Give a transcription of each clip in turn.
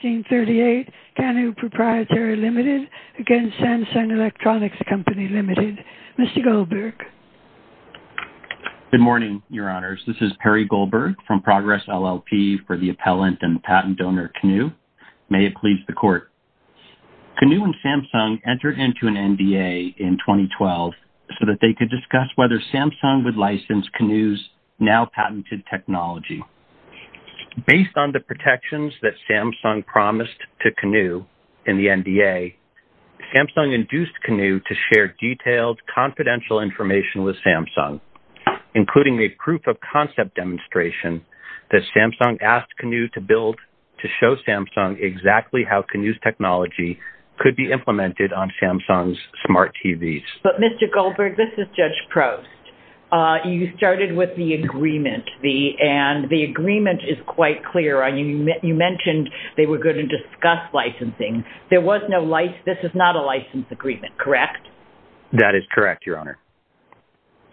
Good morning, Your Honors. This is Perry Goldberg from Progress LLP for the appellant and patent donor Canuu. May it please the Court. Canuu and Samsung entered into an NDA in 2012 so that they could discuss whether Samsung would license Canuu's now-patented technology. Based on the protections that Samsung promised to Canuu in the NDA, Samsung induced Canuu to share detailed, confidential information with Samsung, including a proof-of-concept demonstration that Samsung asked Canuu to build to show Samsung exactly how Canuu's technology could be implemented on Samsung's smart TVs. But Mr. Goldberg, this is Judge Prost. You started with the agreement, and the agreement is quite clear. You mentioned they were going to discuss licensing. This is not a license agreement, correct? That is correct, Your Honor.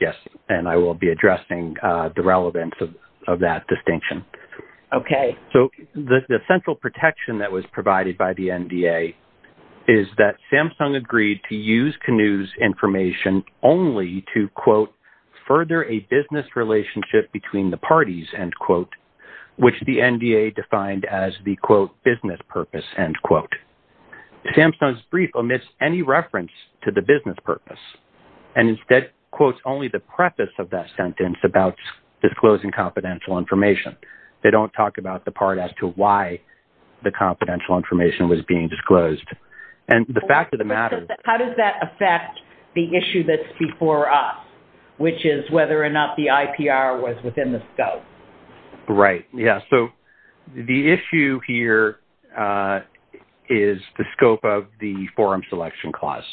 Yes, and I will be addressing the relevance of that distinction. Okay. So the central protection that was provided by the NDA is that Samsung agreed to use Canuu's information only to, quote, further a business relationship between the parties, end quote, which the NDA defined as the, quote, business purpose, end quote. Samsung's brief omits any reference to the business purpose and instead quotes only the preface of that sentence about disclosing confidential information. They don't talk about the part as to why the confidential information was being disclosed. How does that affect the issue that's before us, which is whether or not the IPR was within the scope? Right, yes. So the issue here is the scope of the forum selection clause.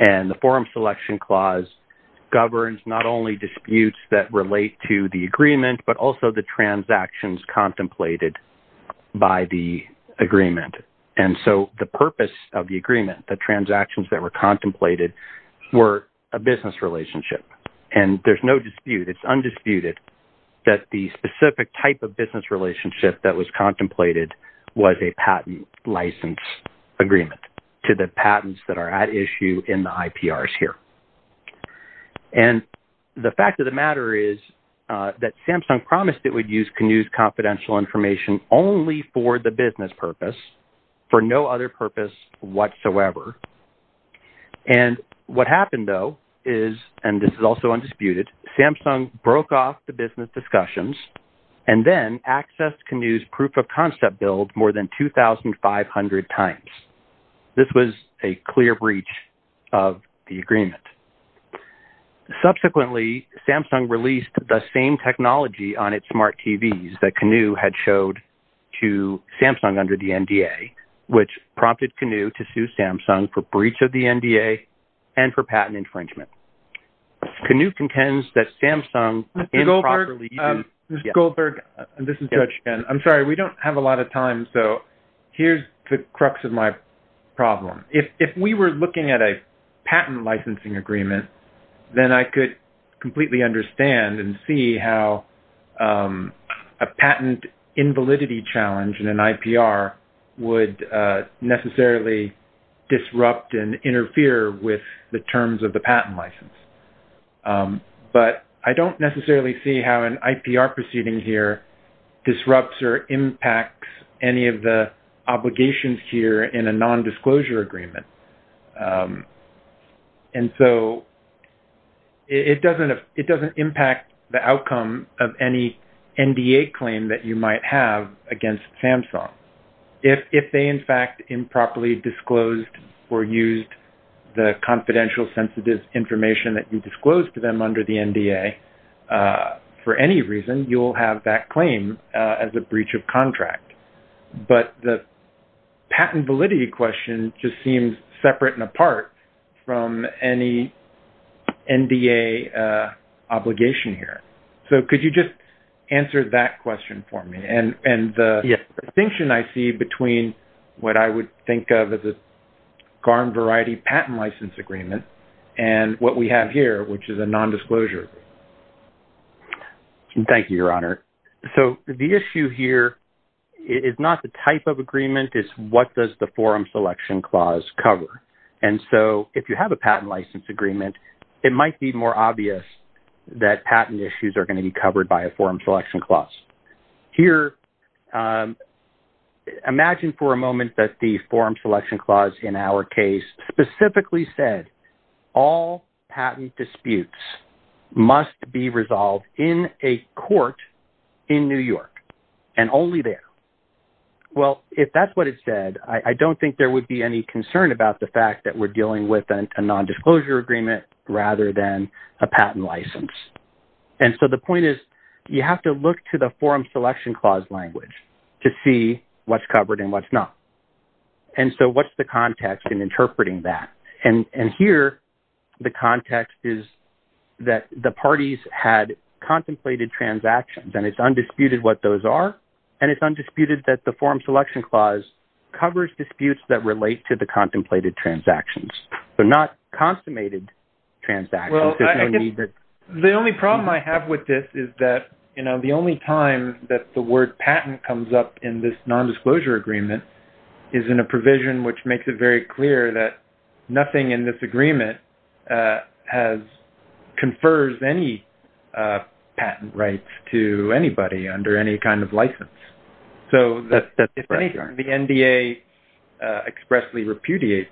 And the forum selection clause governs not only disputes that relate to the agreement, but also the transactions contemplated by the agreement. And so the purpose of the agreement, the transactions that were contemplated, were a business relationship. And there's no dispute, it's undisputed, that the specific type of business relationship that was contemplated was a patent license agreement to the patents that are at issue in the IPRs here. And the fact of the matter is that Samsung promised it would use Canoo's confidential information only for the business purpose, for no other purpose whatsoever. And what happened, though, is, and this is also undisputed, Samsung broke off the business discussions and then accessed Canoo's proof of concept bill more than 2,500 times. This was a clear breach of the agreement. Subsequently, Samsung released the same technology on its smart TVs that Canoo had showed to Samsung under the NDA, which prompted Canoo to sue Samsung for breach of the NDA and for patent infringement. Canoo contends that Samsung improperly used… Mr. Goldberg, this is Judge Chen. I'm sorry, we don't have a lot of time, so here's the crux of my problem. If we were looking at a patent licensing agreement, then I could completely understand and see how a patent invalidity challenge in an IPR would necessarily disrupt and interfere with the terms of the patent license. But I don't necessarily see how an IPR proceeding here disrupts or impacts any of the obligations here in a nondisclosure agreement. And so it doesn't impact the outcome of any NDA claim that you might have against Samsung. If they, in fact, improperly disclosed or used the confidential sensitive information that you disclosed to them under the NDA, for any reason, you'll have that claim as a breach of contract. But the patent validity question just seems separate and apart from any NDA obligation here. So could you just answer that question for me? And the distinction I see between what I would think of as a Garm variety patent license agreement and what we have here, which is a nondisclosure. Thank you, Your Honor. So the issue here is not the type of agreement. It's what does the forum selection clause cover. And so if you have a patent license agreement, it might be more obvious that patent issues are going to be covered by a forum selection clause. Here, imagine for a moment that the forum selection clause in our case specifically said all patent disputes must be resolved in a court in New York and only there. Well, if that's what it said, I don't think there would be any concern about the fact that we're dealing with a nondisclosure agreement rather than a patent license. And so the point is you have to look to the forum selection clause language to see what's covered and what's not. And so what's the context in interpreting that? And here, the context is that the parties had contemplated transactions, and it's undisputed what those are. And it's undisputed that the forum selection clause covers disputes that relate to the contemplated transactions. They're not consummated transactions. The only problem I have with this is that the only time that the word patent comes up in this nondisclosure agreement is in a provision which makes it very clear that nothing in this agreement confers any patent rights to anybody under any kind of license. So the NDA expressly repudiates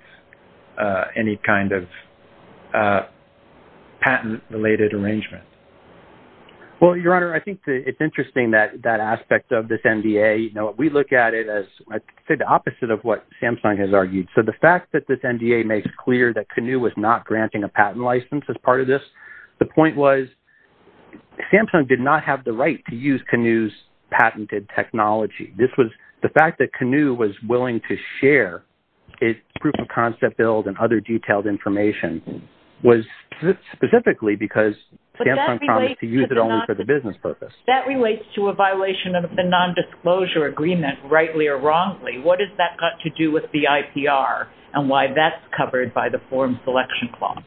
any kind of patent-related arrangement. Well, Your Honor, I think it's interesting that aspect of this NDA. We look at it as the opposite of what Samsung has argued. So the fact that this NDA makes clear that Canoe was not granting a patent license as part of this. The point was Samsung did not have the right to use Canoe's patented technology. The fact that Canoe was willing to share its proof of concept build and other detailed information was specifically because Samsung promised to use it only for the business purpose. But that relates to a violation of the nondisclosure agreement, rightly or wrongly. What has that got to do with the IPR and why that's covered by the forum selection clause?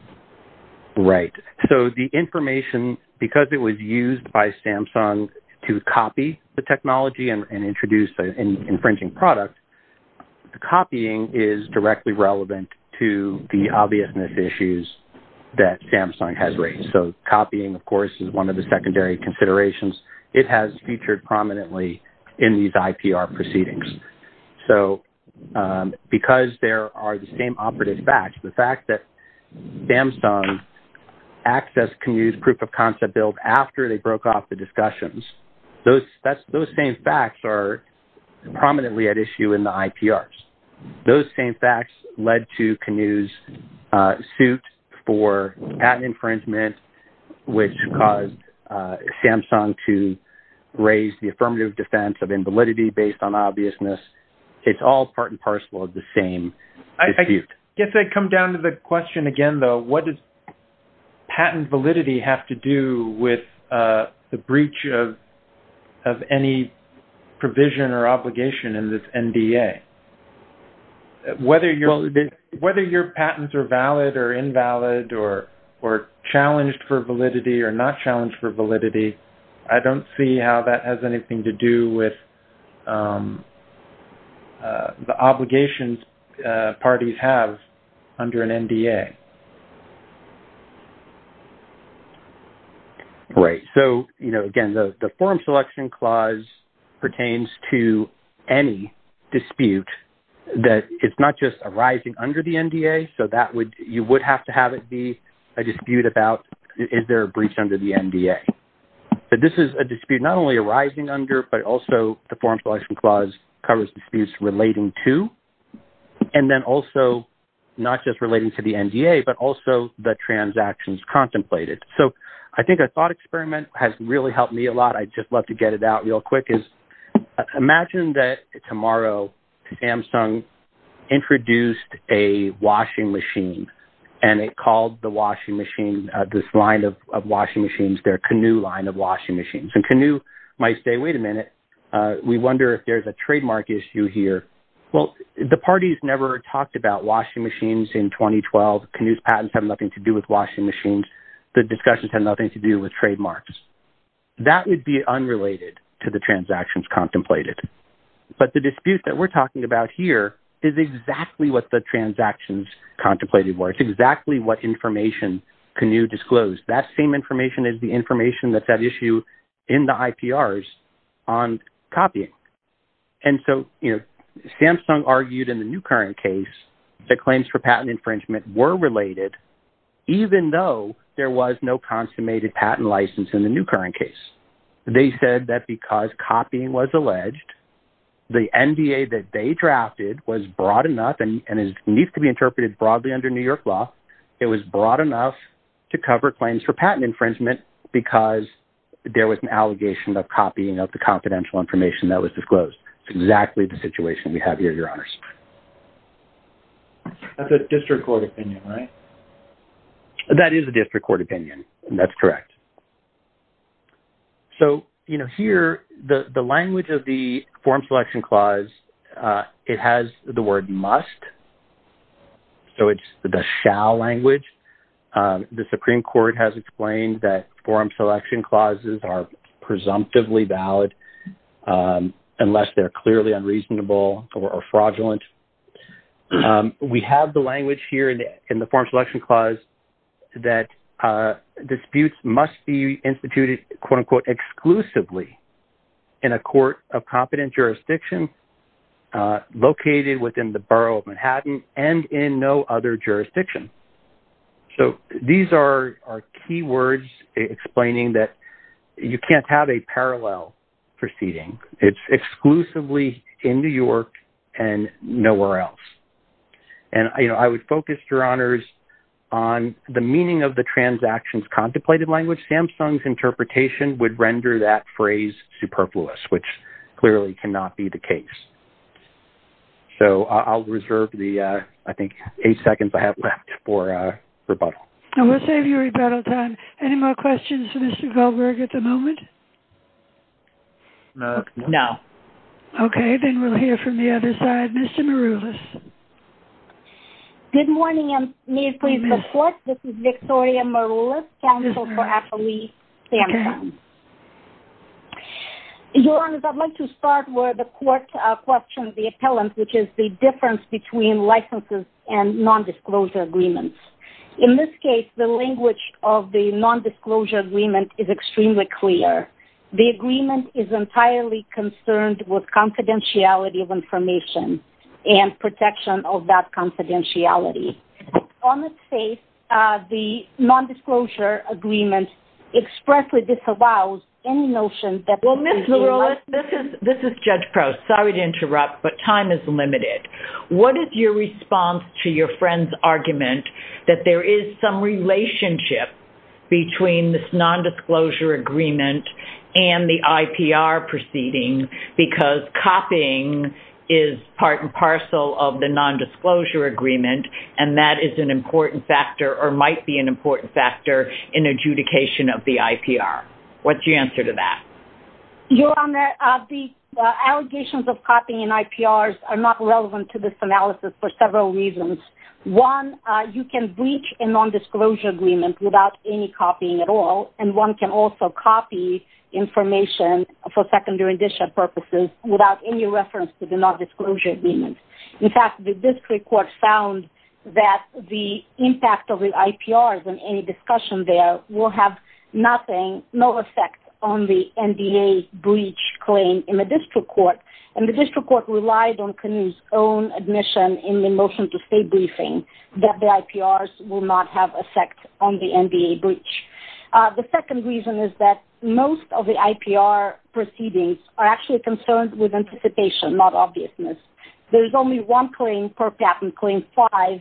Right. So the information, because it was used by Samsung to copy the technology and introduce an infringing product, copying is directly relevant to the obviousness issues that Samsung has raised. So copying, of course, is one of the secondary considerations. It has featured prominently in these IPR proceedings. So because there are the same operative facts, the fact that Samsung accessed Canoe's proof of concept build after they broke off the discussions, those same facts are prominently at issue in the IPRs. Those same facts led to Canoe's suit for patent infringement, which caused Samsung to raise the affirmative defense of invalidity based on obviousness. It's all part and parcel of the same dispute. I guess I come down to the question again, though. What does patent validity have to do with the breach of any provision or obligation in this NDA? Whether your patents are valid or invalid or challenged for validity or not challenged for validity, I don't see how that has anything to do with the obligations parties have under an NDA. Great. So, you know, again, the Form Selection Clause pertains to any dispute that it's not just arising under the NDA. So that would, you would have to have it be a dispute about is there a breach under the NDA. This is a dispute not only arising under, but also the Form Selection Clause covers disputes relating to, and then also not just relating to the NDA, but also the transactions contemplated. So I think a thought experiment has really helped me a lot. I'd just love to get it out real quick. Imagine that tomorrow, Samsung introduced a washing machine, and it called the washing machine, this line of washing machines, their Canoo line of washing machines. And Canoo might say, wait a minute. We wonder if there's a trademark issue here. Well, the parties never talked about washing machines in 2012. Canoo's patents have nothing to do with washing machines. The discussions have nothing to do with trademarks. That would be unrelated to the transactions contemplated. But the dispute that we're talking about here is exactly what the transactions contemplated were. It's exactly what information Canoo disclosed. That same information is the information that's at issue in the IPRs on copying. And so, you know, Samsung argued in the new current case that claims for patent infringement were related, even though there was no consummated patent license in the new current case. They said that because copying was alleged, the NDA that they drafted was broad enough and needs to be interpreted broadly under New York law. It was broad enough to cover claims for patent infringement because there was an allegation of copying of the confidential information that was disclosed. It's exactly the situation we have here, Your Honors. That's a district court opinion, right? That is a district court opinion, and that's correct. So, you know, here, the language of the Form Selection Clause, it has the word must. So it's the shall language. The Supreme Court has explained that Form Selection Clauses are presumptively valid unless they're clearly unreasonable or fraudulent. We have the language here in the Form Selection Clause that disputes must be instituted, quote, unquote, exclusively in a court of competent jurisdiction located within the borough of Manhattan and in no other jurisdiction. So these are key words explaining that you can't have a parallel proceeding. It's exclusively in New York and nowhere else. And, you know, I would focus, Your Honors, on the meaning of the transactions contemplated language. Samsung's interpretation would render that phrase superfluous, which clearly cannot be the case. So I'll reserve the, I think, eight seconds I have left for rebuttal. And we'll save you rebuttal time. Any more questions for Mr. Goldberg at the moment? No. Okay, then we'll hear from the other side. Mr. Maroulis. Good morning, and may it please the Court. This is Victoria Maroulis, counsel for affilee Samsung. Your Honors, I'd like to start where the Court questioned the appellant, which is the difference between licenses and nondisclosure agreements. In this case, the language of the nondisclosure agreement is extremely clear. The agreement is entirely concerned with confidentiality of information and protection of that confidentiality. On its face, the nondisclosure agreement expressly disallows any notion that… Well, Ms. Maroulis, this is Judge Prowse. Sorry to interrupt, but time is limited. What is your response to your friend's argument that there is some relationship between this nondisclosure agreement and the IPR proceeding, because copying is part and parcel of the nondisclosure agreement, and that is an important factor or might be an important factor in adjudication of the IPR? What's your answer to that? Your Honor, the allegations of copying and IPRs are not relevant to this analysis for several reasons. One, you can breach a nondisclosure agreement without any copying at all, and one can also copy information for secondary edition purposes without any reference to the nondisclosure agreement. In fact, the district court found that the impact of the IPRs in any discussion there will have nothing, no effect on the NDA breach claim in the district court, and the district court relied on Knuth's own admission in the motion to state briefing that the IPRs will not have effect on the NDA breach. The second reason is that most of the IPR proceedings are actually concerned with anticipation, not obviousness. There's only one claim per patent, Claim 5,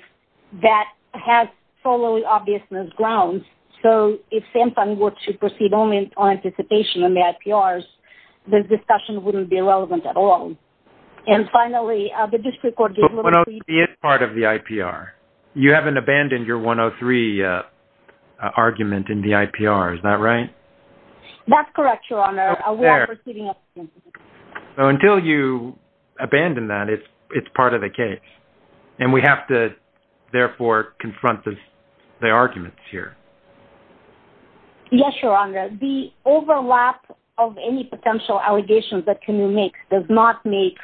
that has solely obviousness grounds, so if SAMHSA works to proceed only on anticipation in the IPRs, the discussion wouldn't be relevant at all. And finally, the district court… But 103 is part of the IPR. You haven't abandoned your 103 argument in the IPR, is that right? That's correct, Your Honor. Up there. So until you abandon that, it's part of the case, and we have to, therefore, confront the arguments here. Yes, Your Honor. The overlap of any potential allegations that can be made does not make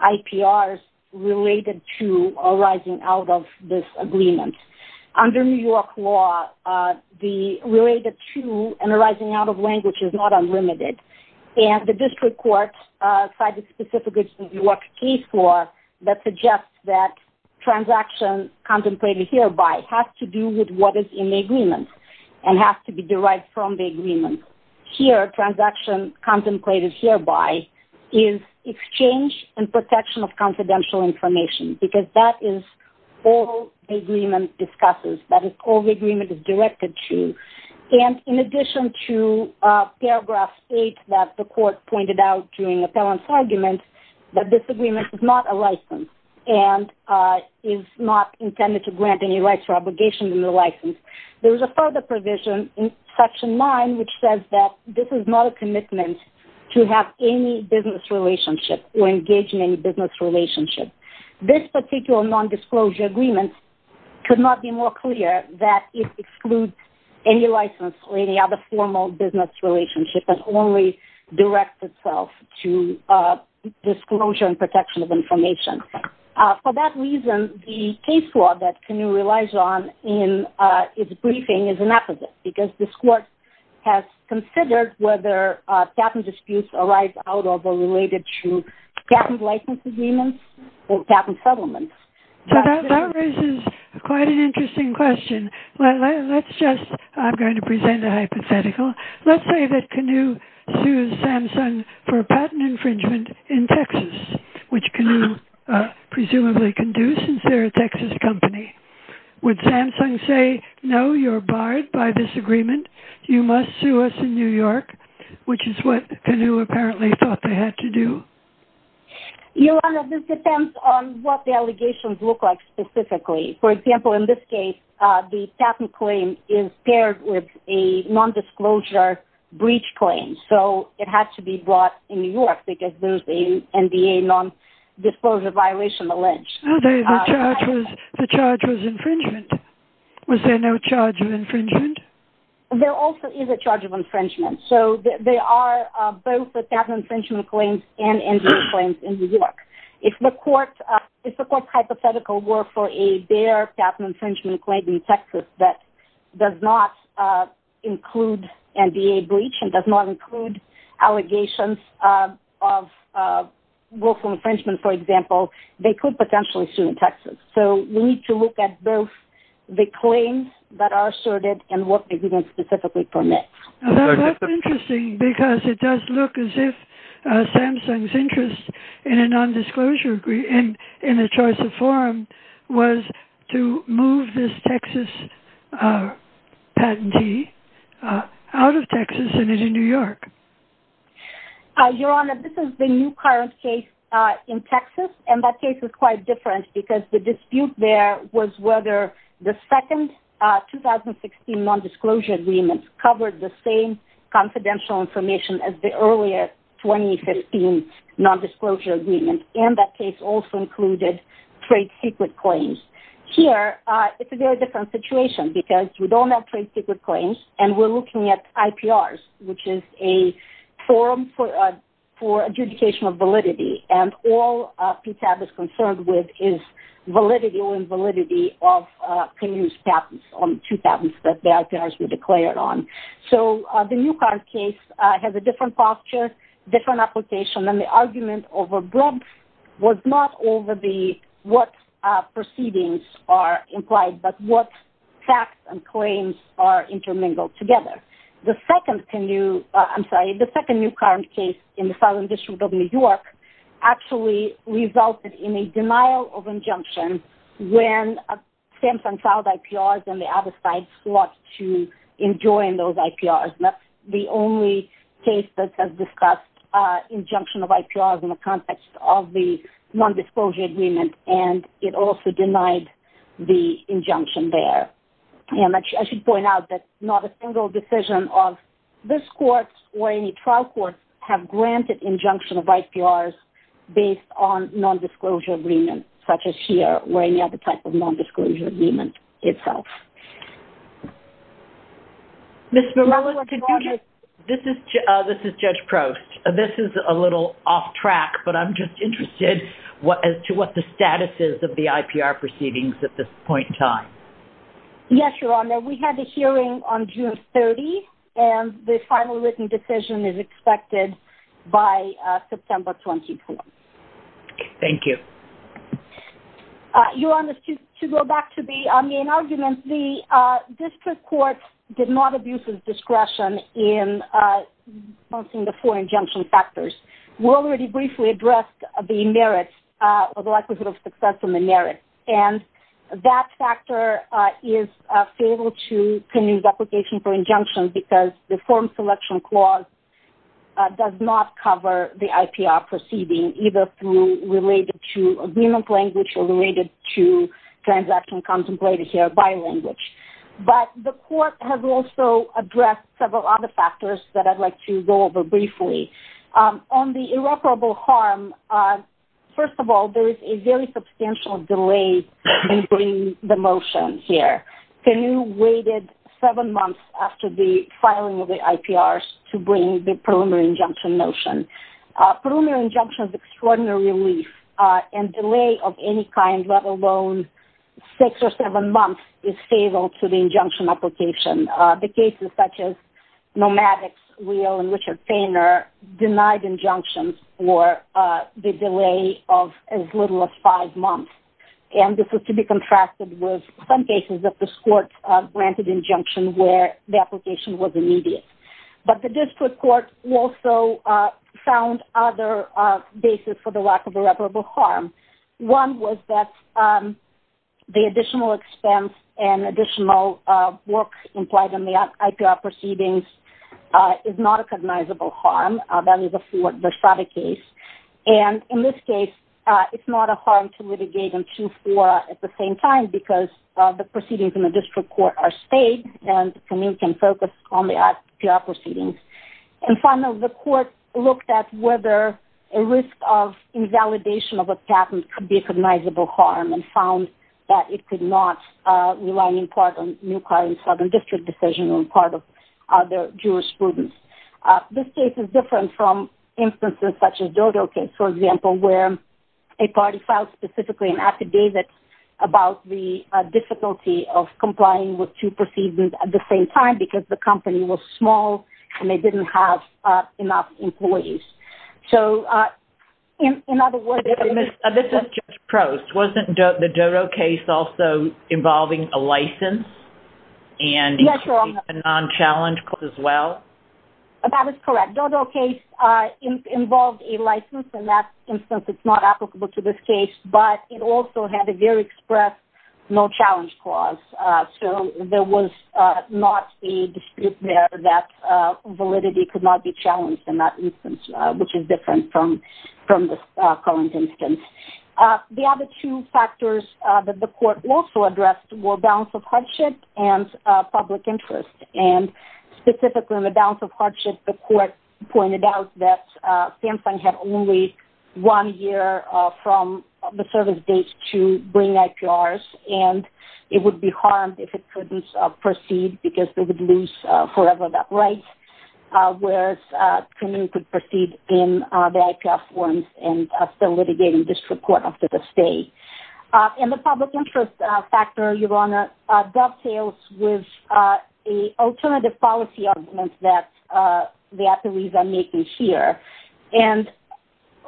IPRs related to arising out of this agreement. Under New York law, the related to and arising out of language is not unlimited, and the district court cited specifically the New York case law that suggests that transaction contemplated hereby has to do with what is in the agreement and has to be derived from the agreement. Here, transaction contemplated hereby is exchange and protection of confidential information, because that is all the agreement discusses, that is all the agreement is directed to. And in addition to paragraph 8 that the court pointed out during appellant's argument, that this agreement is not a license and is not intended to grant any rights or obligations in the license, there is a further provision in section 9 which says that this is not a commitment to have any business relationship or engage in any business relationship. This particular nondisclosure agreement could not be more clear that it excludes any license or any other formal business relationship and only directs itself to disclosure and protection of information. For that reason, the case law that Camille relies on in its briefing is an appellate, because this court has considered whether patent disputes arise out of or related to patent license agreements or patent settlements. So that raises quite an interesting question. Let's just, I'm going to present a hypothetical. Let's say that Camille sues Samsung for patent infringement in Texas, which Camille presumably can do since they're a Texas company. Would Samsung say, no, you're barred by this agreement, you must sue us in New York, which is what Camille apparently thought they had to do? Your Honor, this depends on what the allegations look like specifically. For example, in this case, the patent claim is paired with a nondisclosure breach claim, so it had to be brought in New York because there's a NDA nondisclosure violation allege. The charge was infringement. Was there no charge of infringement? There also is a charge of infringement. So there are both the patent infringement claims and NDA claims in New York. If the court's hypothetical were for a bare patent infringement claim in Texas that does not include NDA breach and does not include allegations of willful infringement, for example, they could potentially sue in Texas. So we need to look at both the claims that are asserted and what the agreement specifically permits. That's interesting because it does look as if Samsung's interest in a nondisclosure agreement, in a choice of forum, was to move this Texas patentee out of Texas and into New York. Your Honor, this is the new current case in Texas, and that case is quite different because the dispute there was whether the second 2016 nondisclosure agreement covered the same confidential information as the earlier 2015 nondisclosure agreement, and that case also included trade secret claims. Here, it's a very different situation because we don't have trade secret claims and we're looking at IPRs, which is a forum for adjudication of validity, and all PTAB is concerned with is validity or invalidity of previous patents, on two patents that the IPRs were declared on. So the new current case has a different posture, different application, and the argument was not over what proceedings are implied, but what facts and claims are intermingled together. The second new current case in the Southern District of New York actually resulted in a denial of injunction when Samsung filed IPRs and the other side fought to enjoin those IPRs. That's the only case that has discussed injunction of IPRs in the context of the nondisclosure agreement, and it also denied the injunction there. And I should point out that not a single decision of this court or any trial court have granted injunction of IPRs based on nondisclosure agreements, such as here or any other type of nondisclosure agreement itself. Ms. Merlis, this is Judge Prost. This is a little off track, but I'm just interested as to what the status is of the IPR proceedings at this point in time. Yes, Your Honor. We had a hearing on June 30, and the final written decision is expected by September 24. Thank you. Your Honor, to go back to the main argument, the district court did not abuse its discretion in announcing the four injunction factors. We already briefly addressed the merits or the likelihood of success in the merits, and that factor is fatal to the application for injunction because the form selection clause does not cover the IPR proceeding, either through related to agreement language or related to transaction contemplated here by language. But the court has also addressed several other factors that I'd like to go over briefly. On the irreparable harm, first of all, there is a very substantial delay in bringing the motion here. The new weighted seven months after the filing of the IPRs to bring the preliminary injunction motion. Preliminary injunction is extraordinary relief, and delay of any kind, let alone six or seven months, is fatal to the injunction application. The cases such as Nomadic's Wheel and Richard Payner denied injunctions for the delay of as little as five months, and this is to be contrasted with some cases that this court granted injunction where the application was immediate. But the district court also found other basis for the lack of irreparable harm. One was that the additional expense and additional work implied in the IPR proceedings is not a cognizable harm. That is a fraud case. And in this case, it's not a harm to litigate in 2-4 at the same time because the proceedings in the district court are staged and the committee can focus on the IPR proceedings. And finally, the court looked at whether a risk of invalidation of a patent could be a cognizable harm and found that it could not rely in part on new client southern district decision or in part of other jurisprudence. This case is different from instances such as Dodo case, for example, where a party filed specifically an affidavit about the difficulty of complying with two proceedings at the same time because the company was small and they didn't have enough employees. So, in other words... This is Judge Prost. Wasn't the Dodo case also involving a license and a non-challenge as well? That is correct. The Dodo case involved a license. In that instance, it's not applicable to this case, but it also had a very express no-challenge clause. So, there was not a dispute there that validity could not be challenged in that instance, which is different from this current instance. The other two factors that the court also addressed were balance of hardship and public interest. Specifically, in the balance of hardship, the court pointed out that Samsung had only one year from the service date to bring IPRs, and it would be harmed if it couldn't proceed because they would lose forever that right, whereas Canoe could proceed in the IPR forms and still litigate in district court after the stay. And the public interest factor, Your Honor, dovetails with the alternative policy arguments that the attorneys are making here. And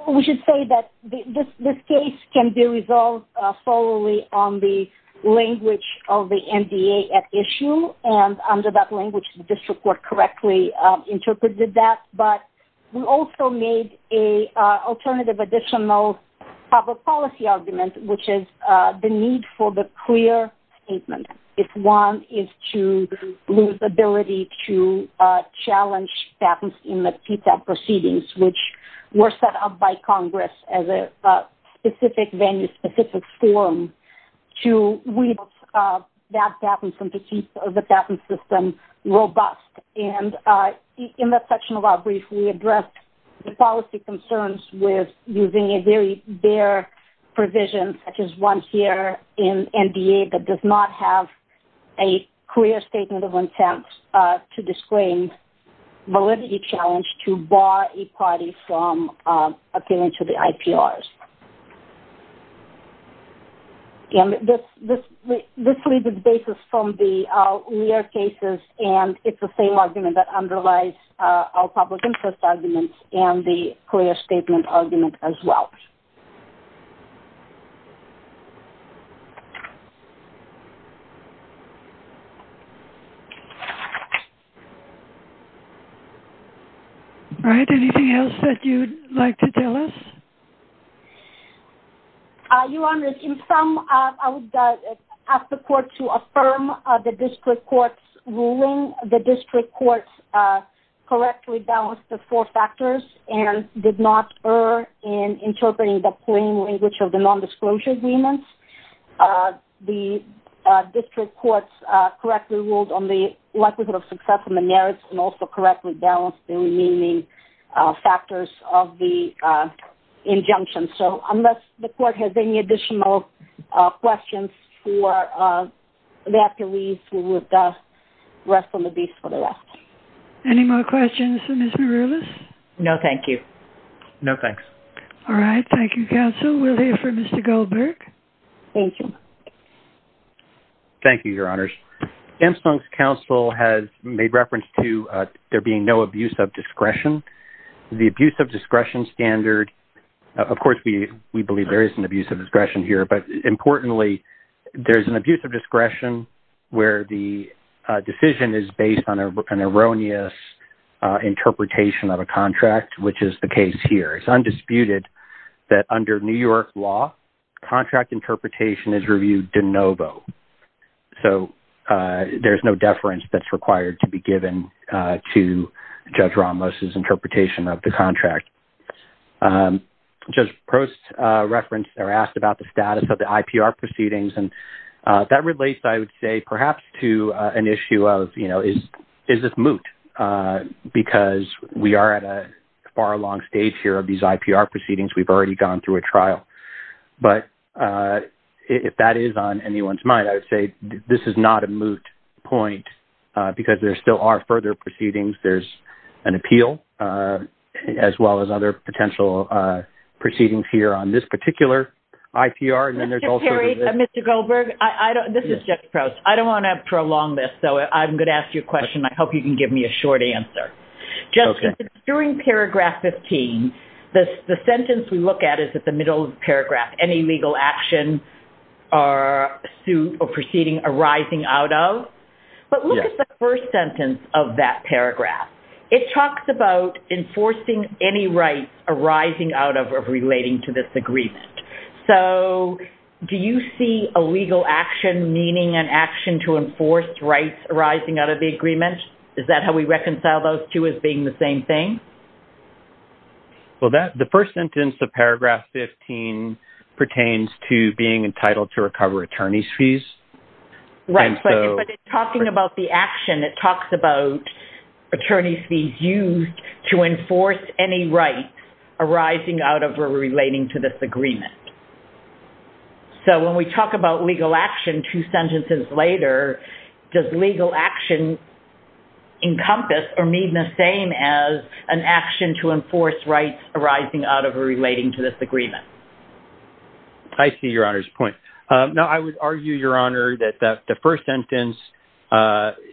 we should say that this case can be resolved solely on the language of the NDA at issue, and under that language, the district court correctly interpreted that. But we also made an alternative additional public policy argument, which is the need for the clear statement. If one is to lose ability to challenge patents in the TTAP proceedings, which were set up by Congress as a specific venue, specific forum, to weed out bad patents and to keep the patent system robust. And in that section of our brief, we addressed the policy concerns with using a very bare provision such as one here in NDA that does not have a clear statement of intent to disclaim validity challenge to bar a party from appealing to the IPRs. And this leaves the basis from the earlier cases, and it's the same argument that underlies our public interest arguments and the clear statement argument as well. All right. Anything else that you'd like to tell us? Your Honor, in sum, I would ask the court to affirm the district court's ruling. The district court correctly balanced the four factors and did not err in interpreting the plain language of the non-disclosure agreements. The district court correctly ruled on the likelihood of success and the merits and also correctly balanced the remaining factors of the injunction. So unless the court has any additional questions for that, please, we would rest on the beast for the rest. Any more questions for Ms. Maroulis? No, thank you. No, thanks. All right. Thank you, counsel. We'll hear from Mr. Goldberg. Thank you. Thank you, Your Honors. Ms. Dunn's counsel has made reference to there being no abuse of discretion. The abuse of discretion standard, of course, we believe there is an abuse of discretion here, but importantly, there's an abuse of discretion where the decision is based on an erroneous interpretation of a contract, which is the case here. It's undisputed that under New York law, contract interpretation is reviewed de novo. So there's no deference that's required to be given to Judge Ramos's interpretation of the contract. Judge Prost referenced or asked about the status of the IPR proceedings, and that relates, I would say, perhaps to an issue of, you know, is this moot? Because we are at a far along stage here of these IPR proceedings. We've already gone through a trial. But if that is on anyone's mind, I would say this is not a moot point because there still are further proceedings. There's an appeal, as well as other potential proceedings here on this particular IPR. Mr. Perry, Mr. Goldberg, this is Judge Prost. I don't want to prolong this, so I'm going to ask you a question. I hope you can give me a short answer. During paragraph 15, the sentence we look at is at the middle of the paragraph, any legal action or suit or proceeding arising out of. But look at the first sentence of that paragraph. It talks about enforcing any rights arising out of or relating to this agreement. So do you see a legal action meaning an action to enforce rights arising out of the agreement? Is that how we reconcile those two as being the same thing? Well, the first sentence of paragraph 15 pertains to being entitled to recover attorney's fees. Right, but it's talking about the action. It talks about attorney's fees used to enforce any rights arising out of or relating to this agreement. So when we talk about legal action two sentences later, does legal action encompass or mean the same as an action to enforce rights arising out of or relating to this agreement? I see Your Honor's point. Now, I would argue, Your Honor, that the first sentence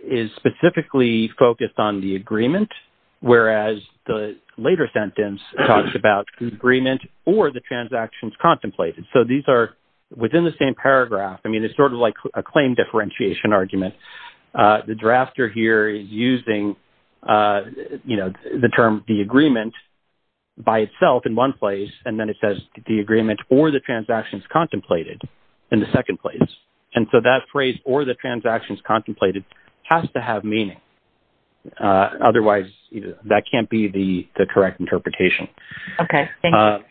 is specifically focused on the agreement, whereas the later sentence talks about the agreement or the transactions contemplated. So these are within the same paragraph. I mean, it's sort of like a claim differentiation argument. The drafter here is using, you know, the term the agreement by itself in one place, and then it says the agreement or the transactions contemplated in the second place. And so that phrase or the transactions contemplated has to have meaning. Otherwise, that can't be the correct interpretation. Okay, thank you.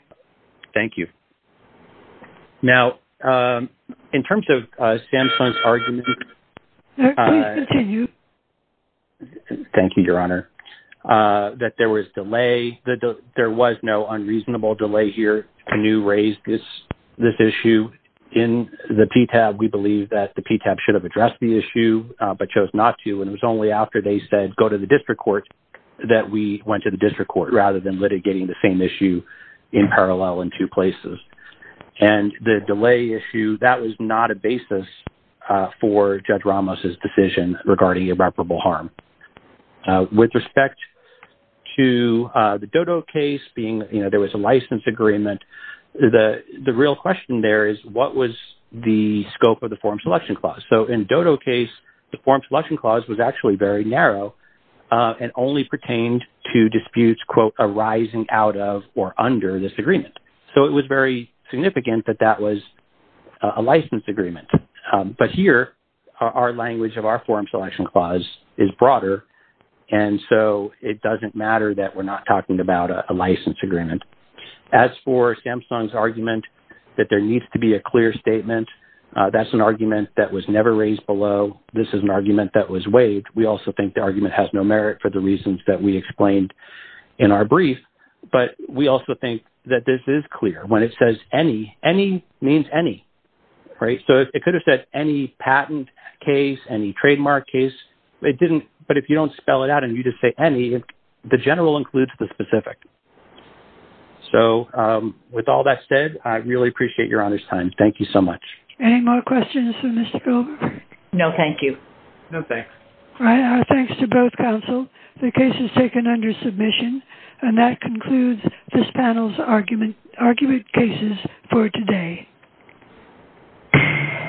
Thank you. Now, in terms of Samsung's argument... Sir, please continue. Thank you, Your Honor. That there was delay, that there was no unreasonable delay here to new raise this issue. In the PTAB, we believe that the PTAB should have addressed the issue, but chose not to, and it was only after they said, go to the district court, that we went to the district court, rather than litigating the same issue in parallel in two places. And the delay issue, that was not a basis for Judge Ramos's decision regarding irreparable harm. With respect to the Dodo case being, you know, there was a license agreement, the real question there is, what was the scope of the form selection clause? So in the Dodo case, the form selection clause was actually very narrow, and only pertained to disputes, quote, arising out of or under this agreement. So it was very significant that that was a license agreement. But here, our language of our form selection clause is broader, and so it doesn't matter that we're not talking about a license agreement. As for Samsung's argument that there needs to be a clear statement, that's an argument that was never raised below. This is an argument that was waived. We also think the argument has no merit for the reasons that we explained in our brief, but we also think that this is clear. When it says any, any means any, right? So it could have said any patent case, any trademark case. It didn't, but if you don't spell it out and you just say any, the general includes the specific. So with all that said, I really appreciate your honest time. Thank you so much. Any more questions for Mr. Goldberg? No, thank you. No, thanks. Our thanks to both counsel. The case is taken under submission, and that concludes this panel's argument cases for today.